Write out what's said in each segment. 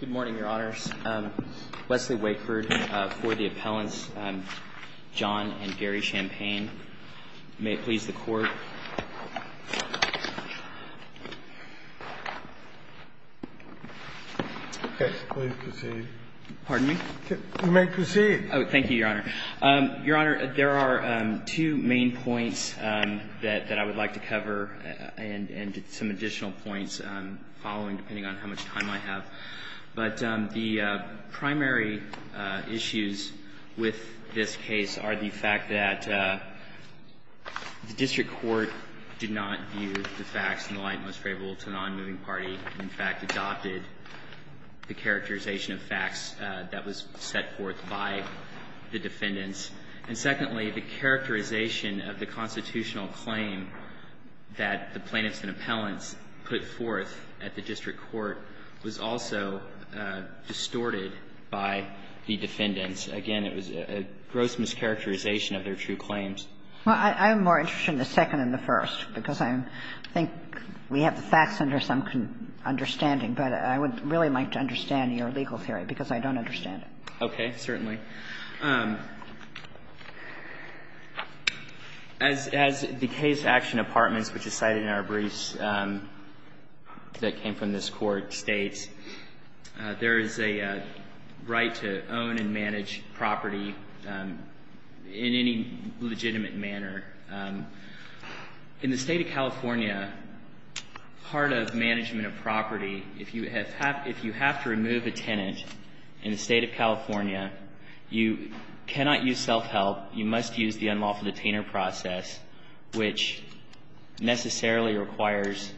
Good morning, Your Honors. Wesley Wakeford for the appellants, John and Gary Champagne. May it please the Court. Please proceed. Pardon me? You may proceed. Oh, thank you, Your Honor. Your Honor, there are two main points that I would like to cover and some additional points following, depending on how much time I have. But the primary issues with this case are the fact that the district court did not view the facts in the light most favorable to a non-moving party and, in fact, adopted the characterization of facts that was set forth by the defendants. And, secondly, the characterization of the constitutional claim that the plaintiffs and appellants put forth at the district court was also distorted by the defendants. Again, it was a gross mischaracterization of their true claims. Well, I'm more interested in the second and the first, because I think we have the facts under some understanding, but I would really like to understand your legal theory, because I don't understand it. Okay. Certainly. As the Case Action Apartments, which is cited in our briefs that came from this Court, states, there is a right to own and manage property in any legitimate manner. In the State of California, part of management of property, if you have to remove a tenant in the State of California, you cannot use self-help, you must use the unlawful detainer process, which necessarily requires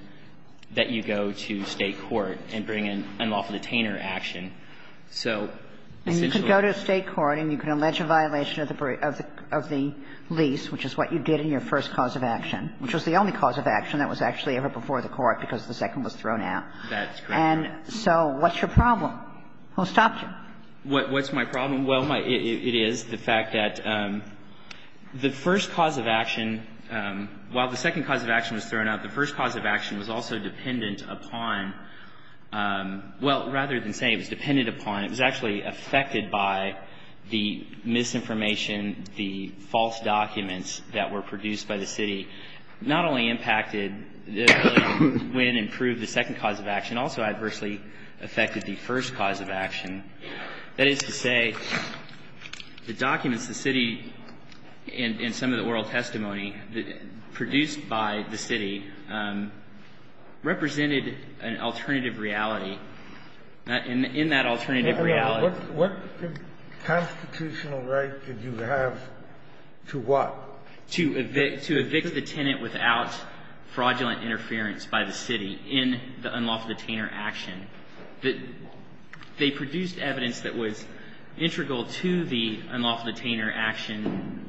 that you go to State court and bring an unlawful detainer action. So essentially you can go to State court and you can allege a violation of the lease, which is what you did in your first cause of action, which was the only cause of action that was actually ever before the Court because the second was thrown out. That's correct. And so what's your problem? I'll stop you. What's my problem? Well, it is the fact that the first cause of action, while the second cause of action was thrown out, the first cause of action was also dependent upon – well, rather than saying it was dependent upon, it was actually affected by the misinformation, the false documents that were produced by the city, not only impacted the ability of the city, but actually affected the first cause of action, that is to say the documents the city, in some of the oral testimony produced by the city, represented an alternative reality, and in that alternative reality – What constitutional right did you have to what? To evict the tenant without fraudulent interference by the city in the unlawful detainer action, that they produced evidence that was integral to the unlawful detainer action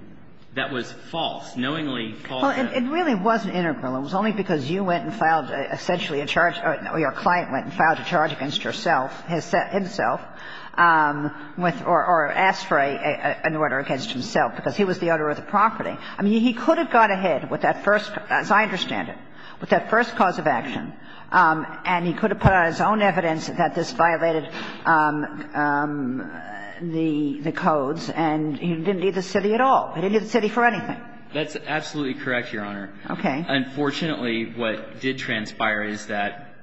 that was false, knowingly false. Well, it really wasn't integral. It was only because you went and filed essentially a charge – or your client went and filed a charge against yourself, himself, or asked for an order against himself because he was the owner of the property. I mean, he could have got ahead with that first, as I understand it, with that first cause of action, and he could have put out his own evidence that this violated the codes, and he didn't need the city at all. He didn't need the city for anything. That's absolutely correct, Your Honor. Okay. Unfortunately, what did transpire is that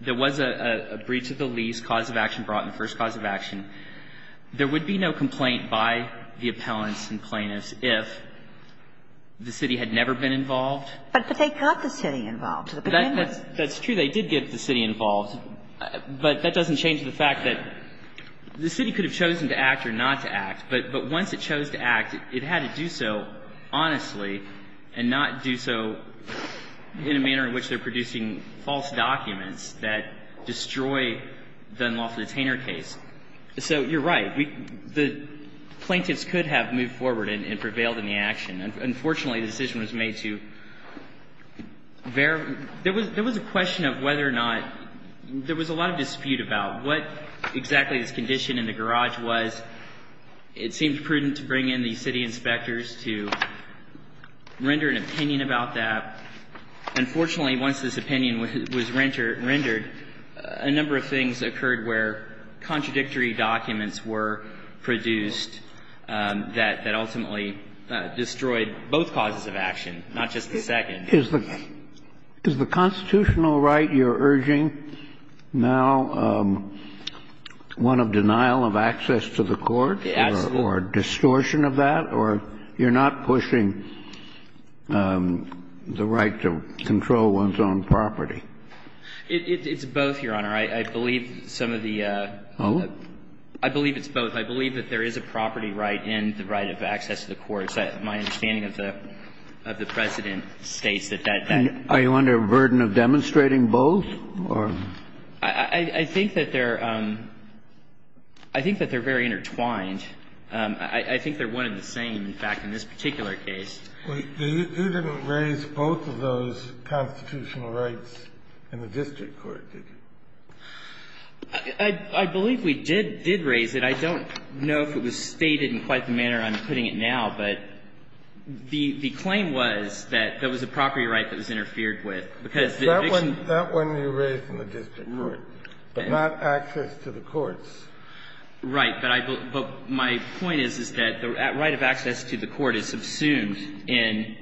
there was a breach of the lease, cause of action brought in, first cause of action. There would be no complaint by the appellants and plaintiffs if the city had never been involved. But they got the city involved. That's true. They did get the city involved. But that doesn't change the fact that the city could have chosen to act or not to act. But once it chose to act, it had to do so honestly and not do so in a manner in which they're producing false documents that destroy the unlawful detainer case. So you're right. The plaintiffs could have moved forward and prevailed in the action. Unfortunately, the decision was made to verify. There was a question of whether or not there was a lot of dispute about what exactly this condition in the garage was. It seemed prudent to bring in the city inspectors to render an opinion about that. Unfortunately, once this opinion was rendered, a number of things occurred where the city could have asked the appellant to do something. But they did, and they did. So they destroyed both causes of action, not just the second. Is the constitutional right you're urging now one of denial of access to the court? Absolutely. Or distortion of that? Or you're not pushing the right to control one's own property? It's both, Your Honor. I believe some of the ---- Oh? I believe it's both. I believe that there is a property right and the right of access to the courts. My understanding of the precedent states that that ---- Are you under a burden of demonstrating both? I think that they're very intertwined. I think they're one and the same, in fact, in this particular case. You didn't raise both of those constitutional rights in the district court, did you? I believe we did raise it. I don't know if it was stated in quite the manner I'm putting it now. But the claim was that there was a property right that was interfered with because the eviction ---- That one you raised in the district court, but not access to the courts. Right. But I believe ---- but my point is, is that the right of access to the court is subsumed in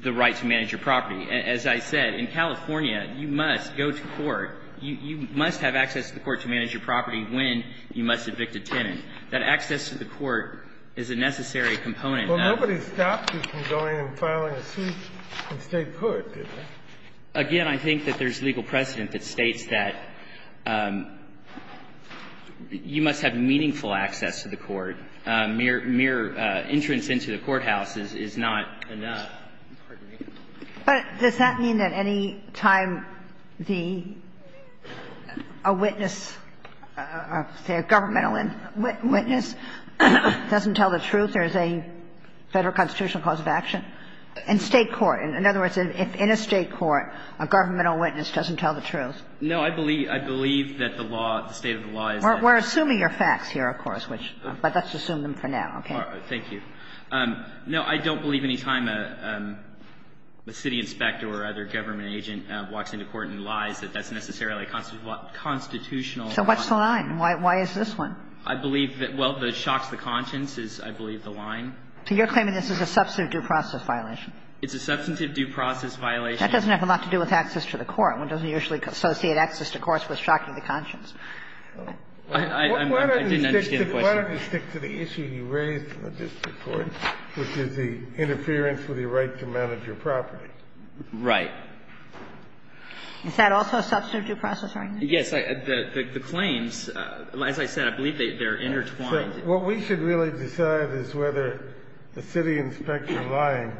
the right to manage your property. As I said, in California, you must go to court. You must have access to the court to manage your property when you must evict a tenant. That access to the court is a necessary component of ---- Well, nobody stopped you from going and filing a suit in state court, did they? Again, I think that there's legal precedent that states that you must have meaningful access to the court. Mere entrance into the courthouse is not enough. But does that mean that any time the ---- a witness, say, a governmental witness doesn't tell the truth, there's a Federal constitutional cause of action? In state court. In other words, in a state court, a governmental witness doesn't tell the truth. No, I believe that the law, the state of the law is ---- We're assuming your facts here, of course, which ---- but let's assume them for now. Okay? Thank you. No, I don't believe any time a city inspector or other government agent walks into court and lies that that's necessarily a constitutional ---- So what's the line? Why is this one? I believe that ---- well, the shocks the conscience is, I believe, the line. So you're claiming this is a substantive due process violation? It's a substantive due process violation. That doesn't have a lot to do with access to the court. One doesn't usually associate access to courts with shocking the conscience. I didn't understand the question. Why don't you stick to the issue you raised in the district court, which is the interference with your right to manage your property? Right. Is that also a substantive due process violation? The claims, as I said, I believe they're intertwined. What we should really decide is whether the city inspector lying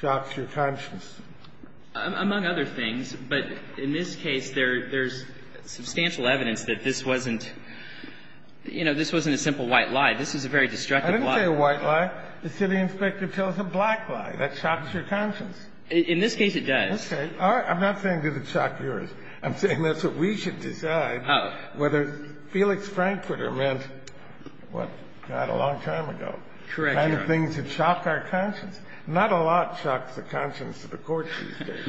shocks your conscience. Among other things. But in this case, there's substantial evidence that this wasn't, you know, this wasn't a simple white lie. This is a very destructive lie. I didn't say a white lie. The city inspector tells a black lie. That shocks your conscience. In this case, it does. Okay. All right. I'm not saying that it shocked yours. I'm saying that's what we should decide. Oh. I don't know whether Felix Frankfurter meant, what, not a long time ago. Correct, Your Honor. The kind of things that shock our conscience. Not a lot shocks the conscience of the courts these days.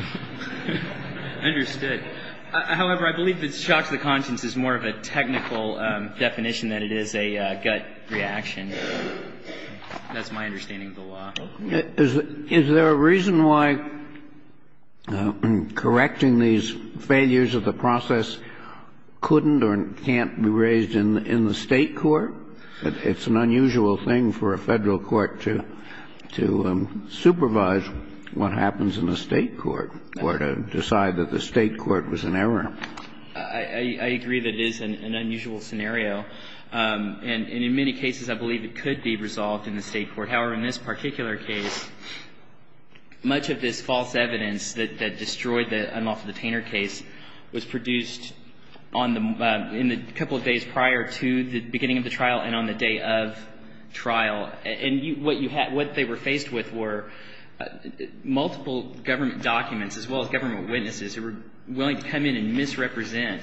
Understood. However, I believe that shocks the conscience is more of a technical definition than it is a gut reaction. That's my understanding of the law. Is there a reason why correcting these failures of the process couldn't or can't be raised in the State court? It's an unusual thing for a Federal court to supervise what happens in a State court or to decide that the State court was in error. I agree that it is an unusual scenario. And in many cases, I believe it could be resolved in the State court. However, in this particular case, much of this false evidence that destroyed the Unlawful Detainer case was produced in the couple of days prior to the beginning of the trial and on the day of trial. And what they were faced with were multiple government documents as well as government witnesses who were willing to come in and misrepresent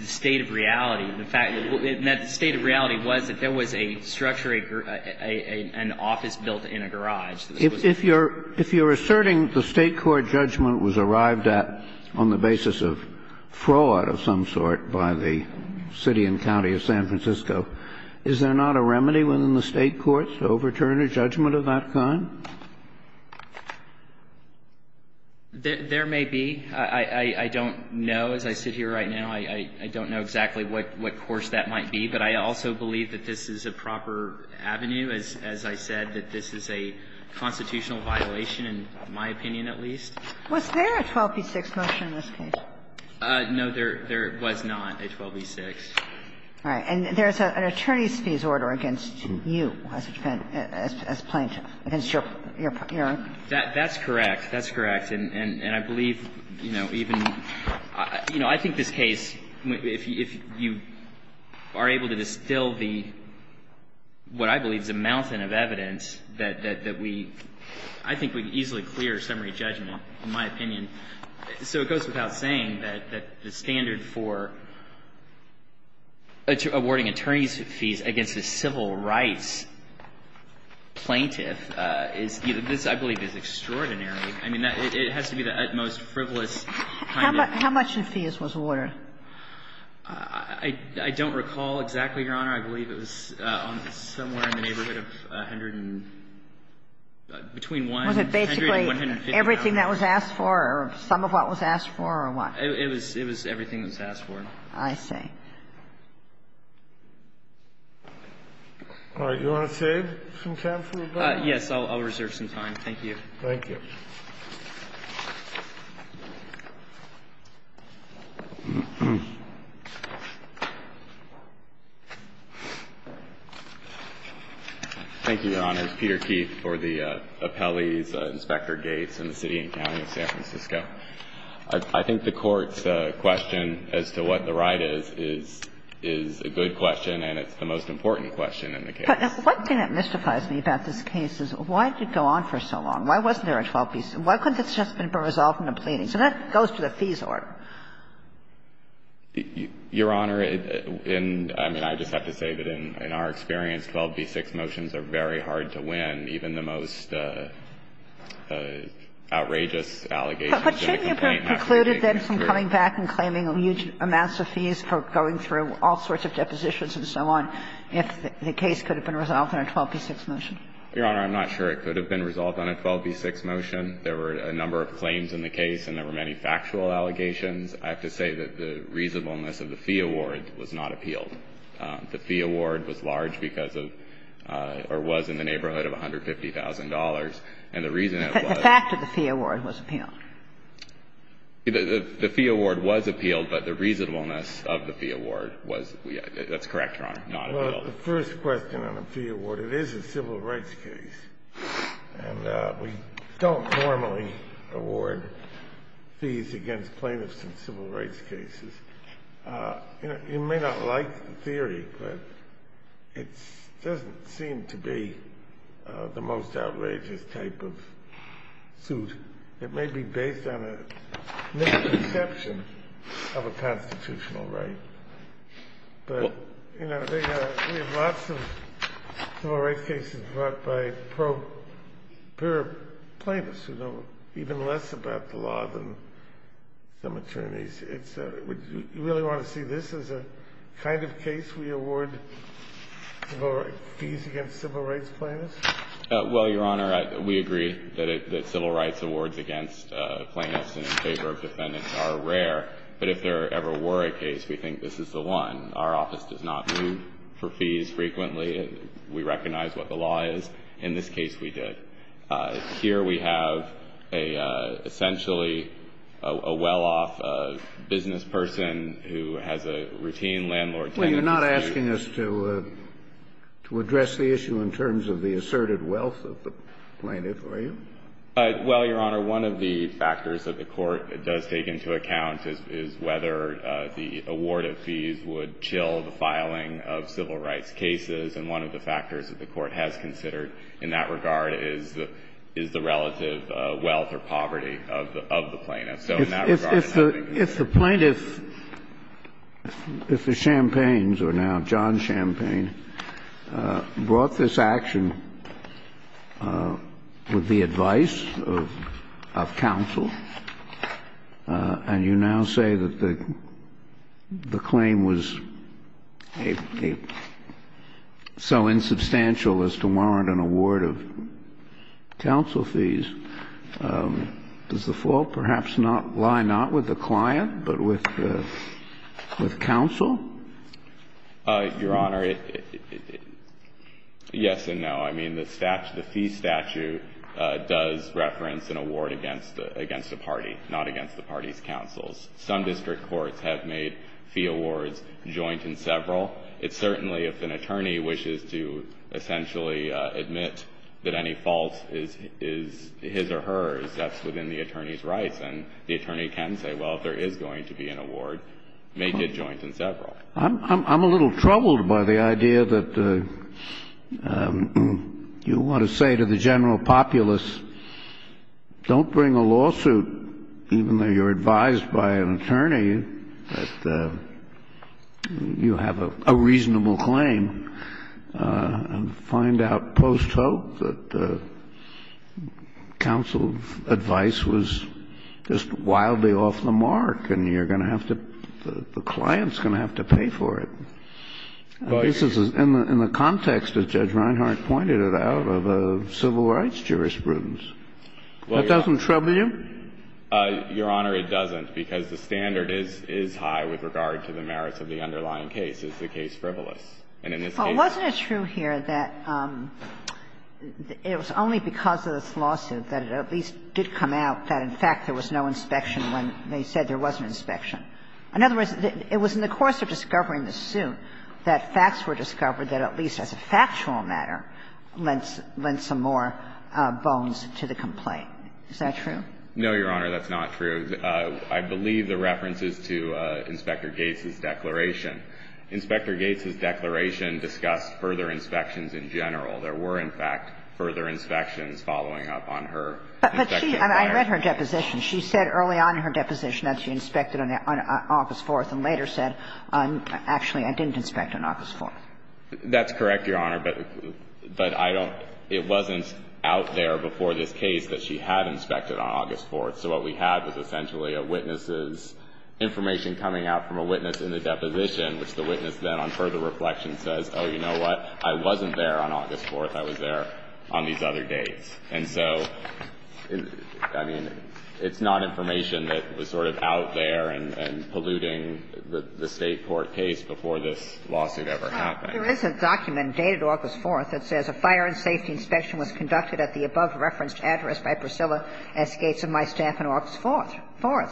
the state of reality. In fact, the state of reality was that there was a structure, an office built in a garage. If you're asserting the State court judgment was arrived at on the basis of fraud of some sort by the city and county of San Francisco, is there not a remedy within the State courts to overturn a judgment of that kind? There may be. I don't know. As I sit here right now, I don't know exactly what course that might be. But I also believe that this is a proper avenue. As I said, that this is a constitutional violation, in my opinion at least. Was there a 12b-6 motion in this case? No. There was not a 12b-6. All right. And there's an attorney's fees order against you as a plaintiff, against your own. That's correct. That's correct. And I believe, you know, even — you know, I think this case, if you are able to distill the — what I believe is a mountain of evidence that we — I think we can easily clear summary judgment, in my opinion. So it goes without saying that the standard for awarding attorney's fees against a civil rights plaintiff is — this, I believe, is extraordinary. I mean, it has to be the utmost frivolous kind of — How much in fees was awarded? I don't recall exactly, Your Honor. I believe it was somewhere in the neighborhood of 100 and — between 100 and 150. Was it basically everything that was asked for or some of what was asked for or what? It was everything that was asked for. I see. All right. Do you want to save some time for rebuttal? I'll reserve some time. Thank you. Thank you. Thank you, Your Honor. It's Peter Keith for the appellees, Inspector Gates in the City and County of San Francisco. I think the Court's question as to what the right is, is a good question and it's the most important question in the case. But one thing that mystifies me about this case is why did it go on for so long? Why wasn't there a 12b6? Why couldn't this just have been resolved in a pleading? So that goes to the fees order. Your Honor, in — I mean, I just have to say that in our experience, 12b6 motions are very hard to win, even the most outrageous allegations in a complaint. But shouldn't you have concluded then from coming back and claiming a huge amount of fees for going through all sorts of depositions and so on if the case could have been resolved in a 12b6 motion? Your Honor, I'm not sure it could have been resolved on a 12b6 motion. There were a number of claims in the case and there were many factual allegations. I have to say that the reasonableness of the fee award was not appealed. The fee award was large because of — or was in the neighborhood of $150,000. And the reason it was — The fact that the fee award was appealed. The fee award was appealed, but the reasonableness of the fee award was — that's correct, Your Honor, not appealed. Well, the first question on the fee award, it is a civil rights case. And we don't normally award fees against plaintiffs in civil rights cases. You may not like the theory, but it doesn't seem to be the most outrageous type of suit. It may be based on a misconception of a constitutional right. But, you know, we have lots of civil rights cases brought by pro-pure plaintiffs who know even less about the law than some attorneys. Would you really want to see this as a kind of case we award fees against civil rights plaintiffs? Well, Your Honor, we agree that civil rights awards against plaintiffs and in favor of defendants are rare. But if there ever were a case, we think this is the one. Our office does not move for fees frequently. We recognize what the law is. In this case, we did. Here we have essentially a well-off business person who has a routine landlord — Well, you're not asking us to address the issue in terms of the asserted wealth of the plaintiff, are you? Well, Your Honor, one of the factors that the Court does take into account is whether the award of fees would chill the filing of civil rights cases. And one of the factors that the Court has considered in that regard is the relative wealth or poverty of the plaintiff. If the plaintiff, if the Champaigns, or now John Champaign, brought this action with the advice of counsel, and you now say that the claim was so insubstantial as to warrant an award of counsel fees, does the fault perhaps lie not with the client but with counsel? Your Honor, yes and no. I mean, the statute, the fee statute does reference an award against a party, not against the party's counsels. Some district courts have made fee awards joint in several. It certainly, if an attorney wishes to essentially admit that any fault is his or hers, that's within the attorney's rights. And the attorney can say, well, if there is going to be an award, make it joint in several. I'm a little troubled by the idea that you want to say to the general populace, don't bring a lawsuit, even though you're advised by an attorney that you have a reasonable claim, and find out post-hope that counsel's advice was just wildly off the mark and you're going to have to, the client's going to have to pay for it. This is in the context, as Judge Reinhart pointed it out, of civil rights jurisprudence. That doesn't trouble you? Your Honor, it doesn't, because the standard is high with regard to the merits of the underlying case. It's the case frivolous. And in this case, it's not. But wasn't it true here that it was only because of this lawsuit that it at least did come out that, in fact, there was no inspection when they said there was an inspection? In other words, it was in the course of discovering the suit that facts were discovered that at least as a factual matter lent some more bones to the complaint. Is that true? No, Your Honor, that's not true. I believe the reference is to Inspector Gates's declaration. Inspector Gates's declaration discussed further inspections in general. There were, in fact, further inspections following up on her inspection. But she – I read her deposition. She said early on in her deposition that she inspected on August 4th and later said, actually, I didn't inspect on August 4th. That's correct, Your Honor, but I don't – it wasn't out there before this case that she had inspected on August 4th. So what we had was essentially a witness's information coming out from a witness in the deposition, which the witness then, on further reflection, says, oh, you know what, I wasn't there on August 4th, I was there on these other days. And so, I mean, it's not information that was sort of out there and polluting the State court case before this lawsuit ever happened. Well, there is a document dated August 4th that says a fire and safety inspection was conducted at the above-referenced address by Priscilla S. Gates and my staff on August 4th.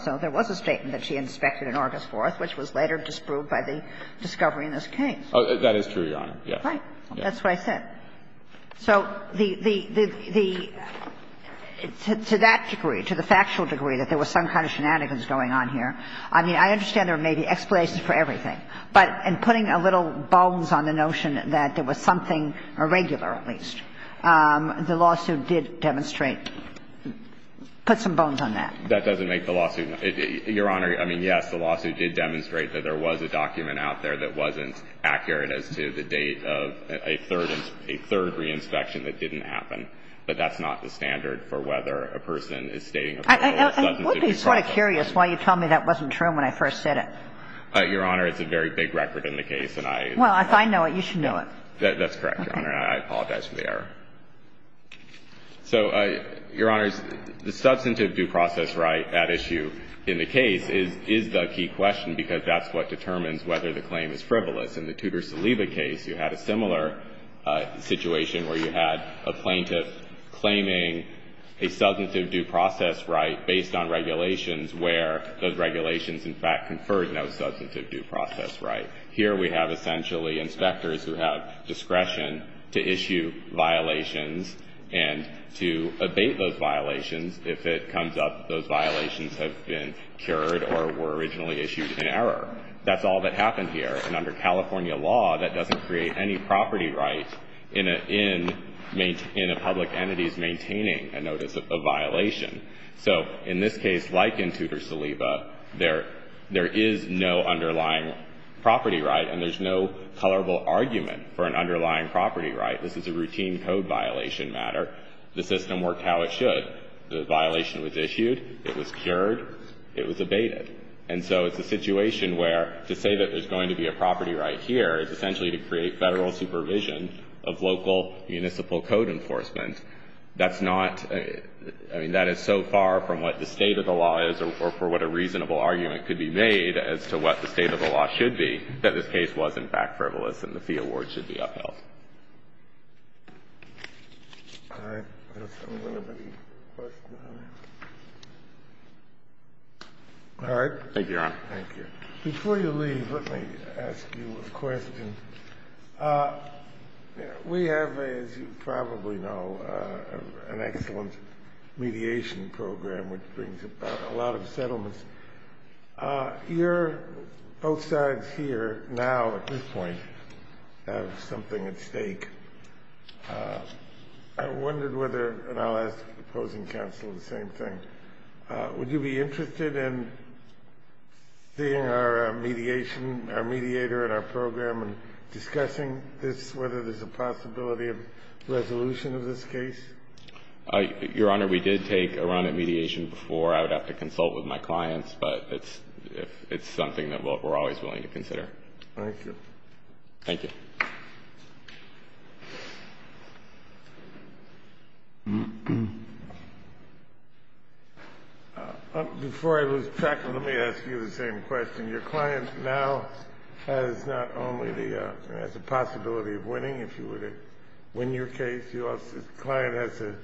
So there was a statement that she inspected on August 4th, which was later disproved by the discovery in this case. That is true, Your Honor, yes. Right. That's what I said. So the – to that degree, to the factual degree that there was some kind of shenanigans going on here, I mean, I understand there may be explanations for everything. But in putting a little bones on the notion that there was something irregular, at least, the lawsuit did demonstrate – put some bones on that. That doesn't make the lawsuit – Your Honor, I mean, yes, the lawsuit did demonstrate that there was a document out there that wasn't accurate as to the date of a third – a third re-inspection that didn't happen. But that's not the standard for whether a person is stating a factual or substantive due process. I would be sort of curious why you tell me that wasn't true when I first said it. Your Honor, it's a very big record in the case, and I – Well, if I know it, you should know it. That's correct, Your Honor, and I apologize for the error. So, Your Honors, the substantive due process right at issue in the case is – is the key question because that's what determines whether the claim is frivolous. In the Tudor-Saliba case, you had a similar situation where you had a plaintiff claiming a substantive due process right based on regulations where those regulations in fact conferred no substantive due process right. Here, we have essentially inspectors who have discretion to issue violations and to abate those violations. If it comes up those violations have been cured or were originally issued in error. That's all that happened here, and under California law, that doesn't create any entities maintaining a notice of violation. So, in this case, like in Tudor-Saliba, there – there is no underlying property right and there's no colorable argument for an underlying property right. This is a routine code violation matter. The system worked how it should. The violation was issued, it was cured, it was abated. And so, it's a situation where to say that there's going to be a property right here is essentially to create Federal supervision of local municipal code enforcement. That's not – I mean, that is so far from what the state of the law is or for what a reasonable argument could be made as to what the state of the law should be that this case was, in fact, frivolous and the fee award should be upheld. All right. I don't see any other questions. All right. Thank you, Your Honor. Thank you. Before you leave, let me ask you a question. We have, as you probably know, an excellent mediation program which brings about a lot of settlements. Your both sides here now, at this point, have something at stake. I wondered whether – and I'll ask the opposing counsel the same thing – would you be interested in seeing our mediation – our mediator and our program and discussing this, whether there's a possibility of resolution of this case? Your Honor, we did take a run at mediation before. I would have to consult with my clients, but it's something that we're always willing to consider. Thank you. Thank you. Before I lose track, let me ask you the same question. Your client now has not only the – has the possibility of winning, if you were to win your case. Your client has the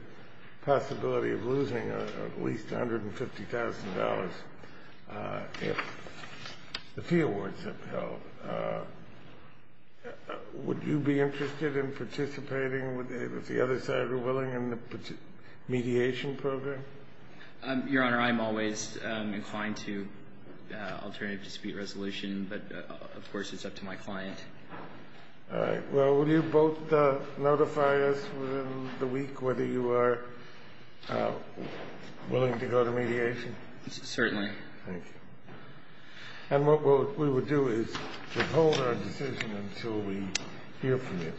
possibility of losing at least $150,000 if the fee awards are upheld. Would you be interested in participating, if the other side were willing, in the mediation program? Your Honor, I'm always inclined to alternative dispute resolution, but of course it's up to my client. All right. Well, will you both notify us within the week whether you are willing to go to mediation? Certainly. Thank you. And what we will do is withhold our decision until we hear from you.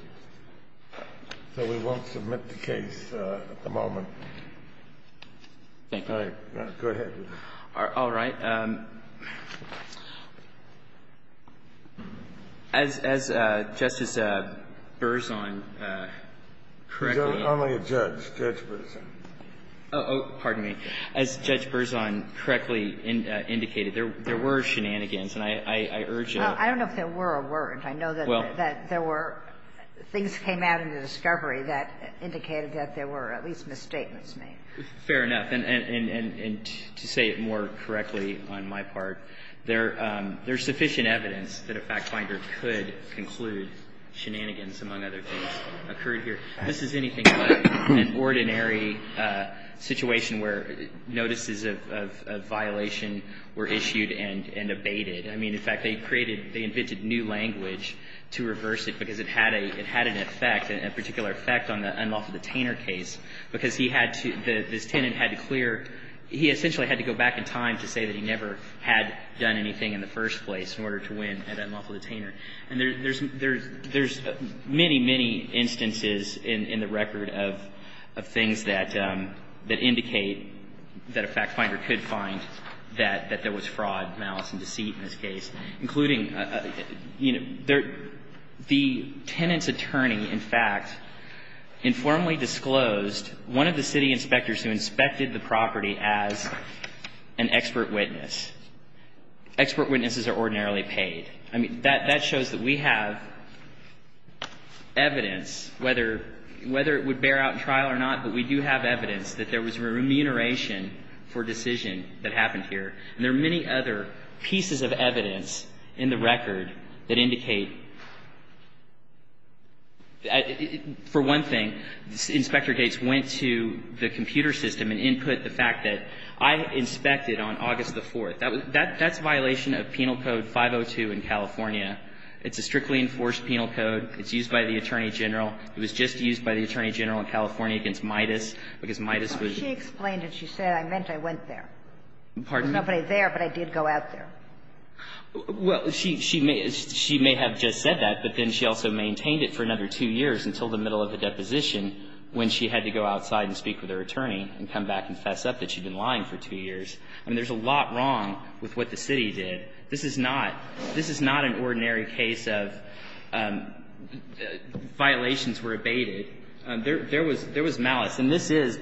So we won't submit the case at the moment. Thank you. All right. Go ahead. All right. As Justice Berzon correctly indicated – He's only a judge, Judge Berzon. Pardon me. As Judge Berzon correctly indicated, there were shenanigans, and I urge a – Well, I don't know if there were or weren't. I know that there were – things came out in the discovery that indicated that there were at least misstatements made. Fair enough. And to say it more correctly on my part, there's sufficient evidence that a factfinder could conclude shenanigans, among other things, occurred here. This is anything but an ordinary situation where notices of violation were issued and abated. I mean, in fact, they created – they invented new language to reverse it because it had an effect, a particular effect on the Unlawful Detainer case, because he had to – this tenant had to clear – he essentially had to go back in time to say that he never had done anything in the first place in order to win at Unlawful Detainer. And there's many, many instances in the record of things that indicate that a factfinder could find that there was fraud, malice, and deceit in this case, including – you know, the tenant's attorney, in fact, informally disclosed one of the city inspectors who inspected the property as an expert witness. Expert witnesses are ordinarily paid. I mean, that shows that we have evidence, whether it would bear out in trial or not, but we do have evidence that there was remuneration for a decision that happened here. And there are many other pieces of evidence in the record that indicate – for one thing, Inspector Gates went to the computer system and input the fact that I inspected on August the 4th. That's a violation of Penal Code 502 in California. It's a strictly enforced penal code. It's used by the Attorney General. It was just used by the Attorney General in California against Midas, because Midas was – She explained it. She said, I meant I went there. Pardon me? There was nobody there, but I did go out there. Well, she may have just said that, but then she also maintained it for another two years until the middle of the deposition when she had to go outside and speak with her attorney and come back and fess up that she'd been lying for two years. I mean, there's a lot wrong with what the city did. This is not – this is not an ordinary case of violations were abated. There was malice. And this is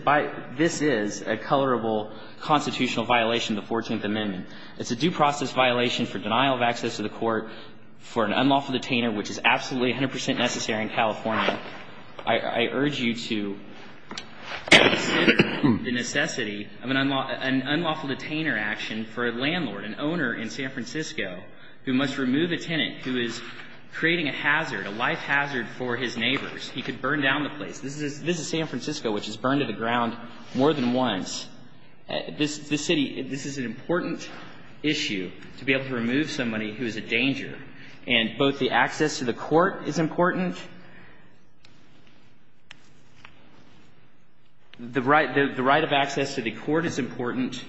a colorable constitutional violation of the 14th Amendment. It's a due process violation for denial of access to the court for an unlawful detainer, which is absolutely 100 percent necessary in California. I urge you to consider the necessity of an unlawful detainer action for a landlord, an owner in San Francisco, who must remove a tenant who is creating a hazard, a life hazard for his neighbors. He could burn down the place. This is San Francisco, which has burned to the ground more than once. This city – this is an important issue to be able to remove somebody who is a danger. And both the access to the court is important – the right of access to the court is important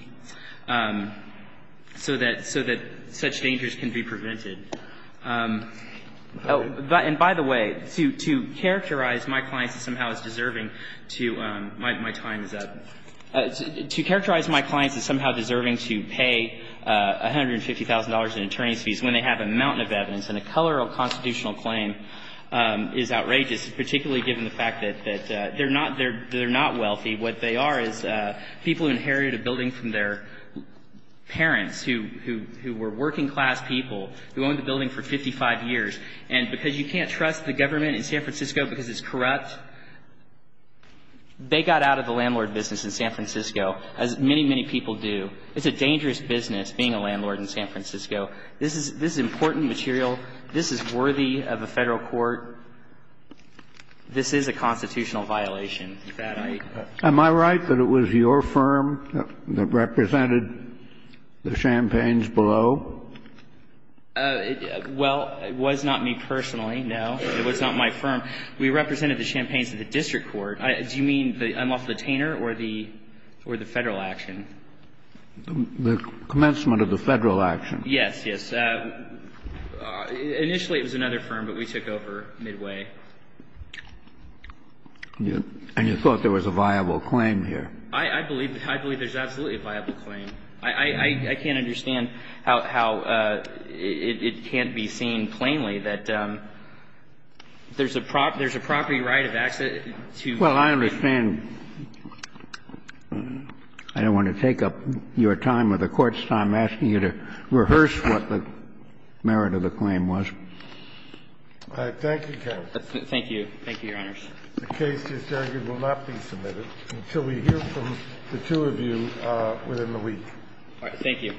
so that such dangers can be prevented. And by the way, to characterize my clients as somehow deserving to – my time is up. To characterize my clients as somehow deserving to pay $150,000 in attorney's fees when they have a mountain of evidence and a colorable constitutional claim is outrageous, particularly given the fact that they're not wealthy. What they are is people who inherited a building from their parents, who were working class people, who owned the building for 55 years. And because you can't trust the government in San Francisco because it's corrupt, they got out of the landlord business in San Francisco, as many, many people do. It's a dangerous business being a landlord in San Francisco. This is – this is important material. This is worthy of a Federal court. This is a constitutional violation that I – Am I right that it was your firm that represented the Champagnes below? Well, it was not me personally, no. It was not my firm. We represented the Champagnes at the district court. Do you mean the unlawful detainer or the – or the Federal action? The commencement of the Federal action. Yes, yes. Initially, it was another firm, but we took over midway. And you thought there was a viable claim here? I believe – I believe there's absolutely a viable claim. I can't understand how it can't be seen plainly that there's a property right of access to – Well, I understand. I don't want to take up your time or the Court's time asking you to rehearse what the merit of the claim was. All right. Thank you, counsel. Thank you. Thank you, Your Honors. The case, it's argued, will not be submitted until we hear from the two of you within the week. All right. Thank you.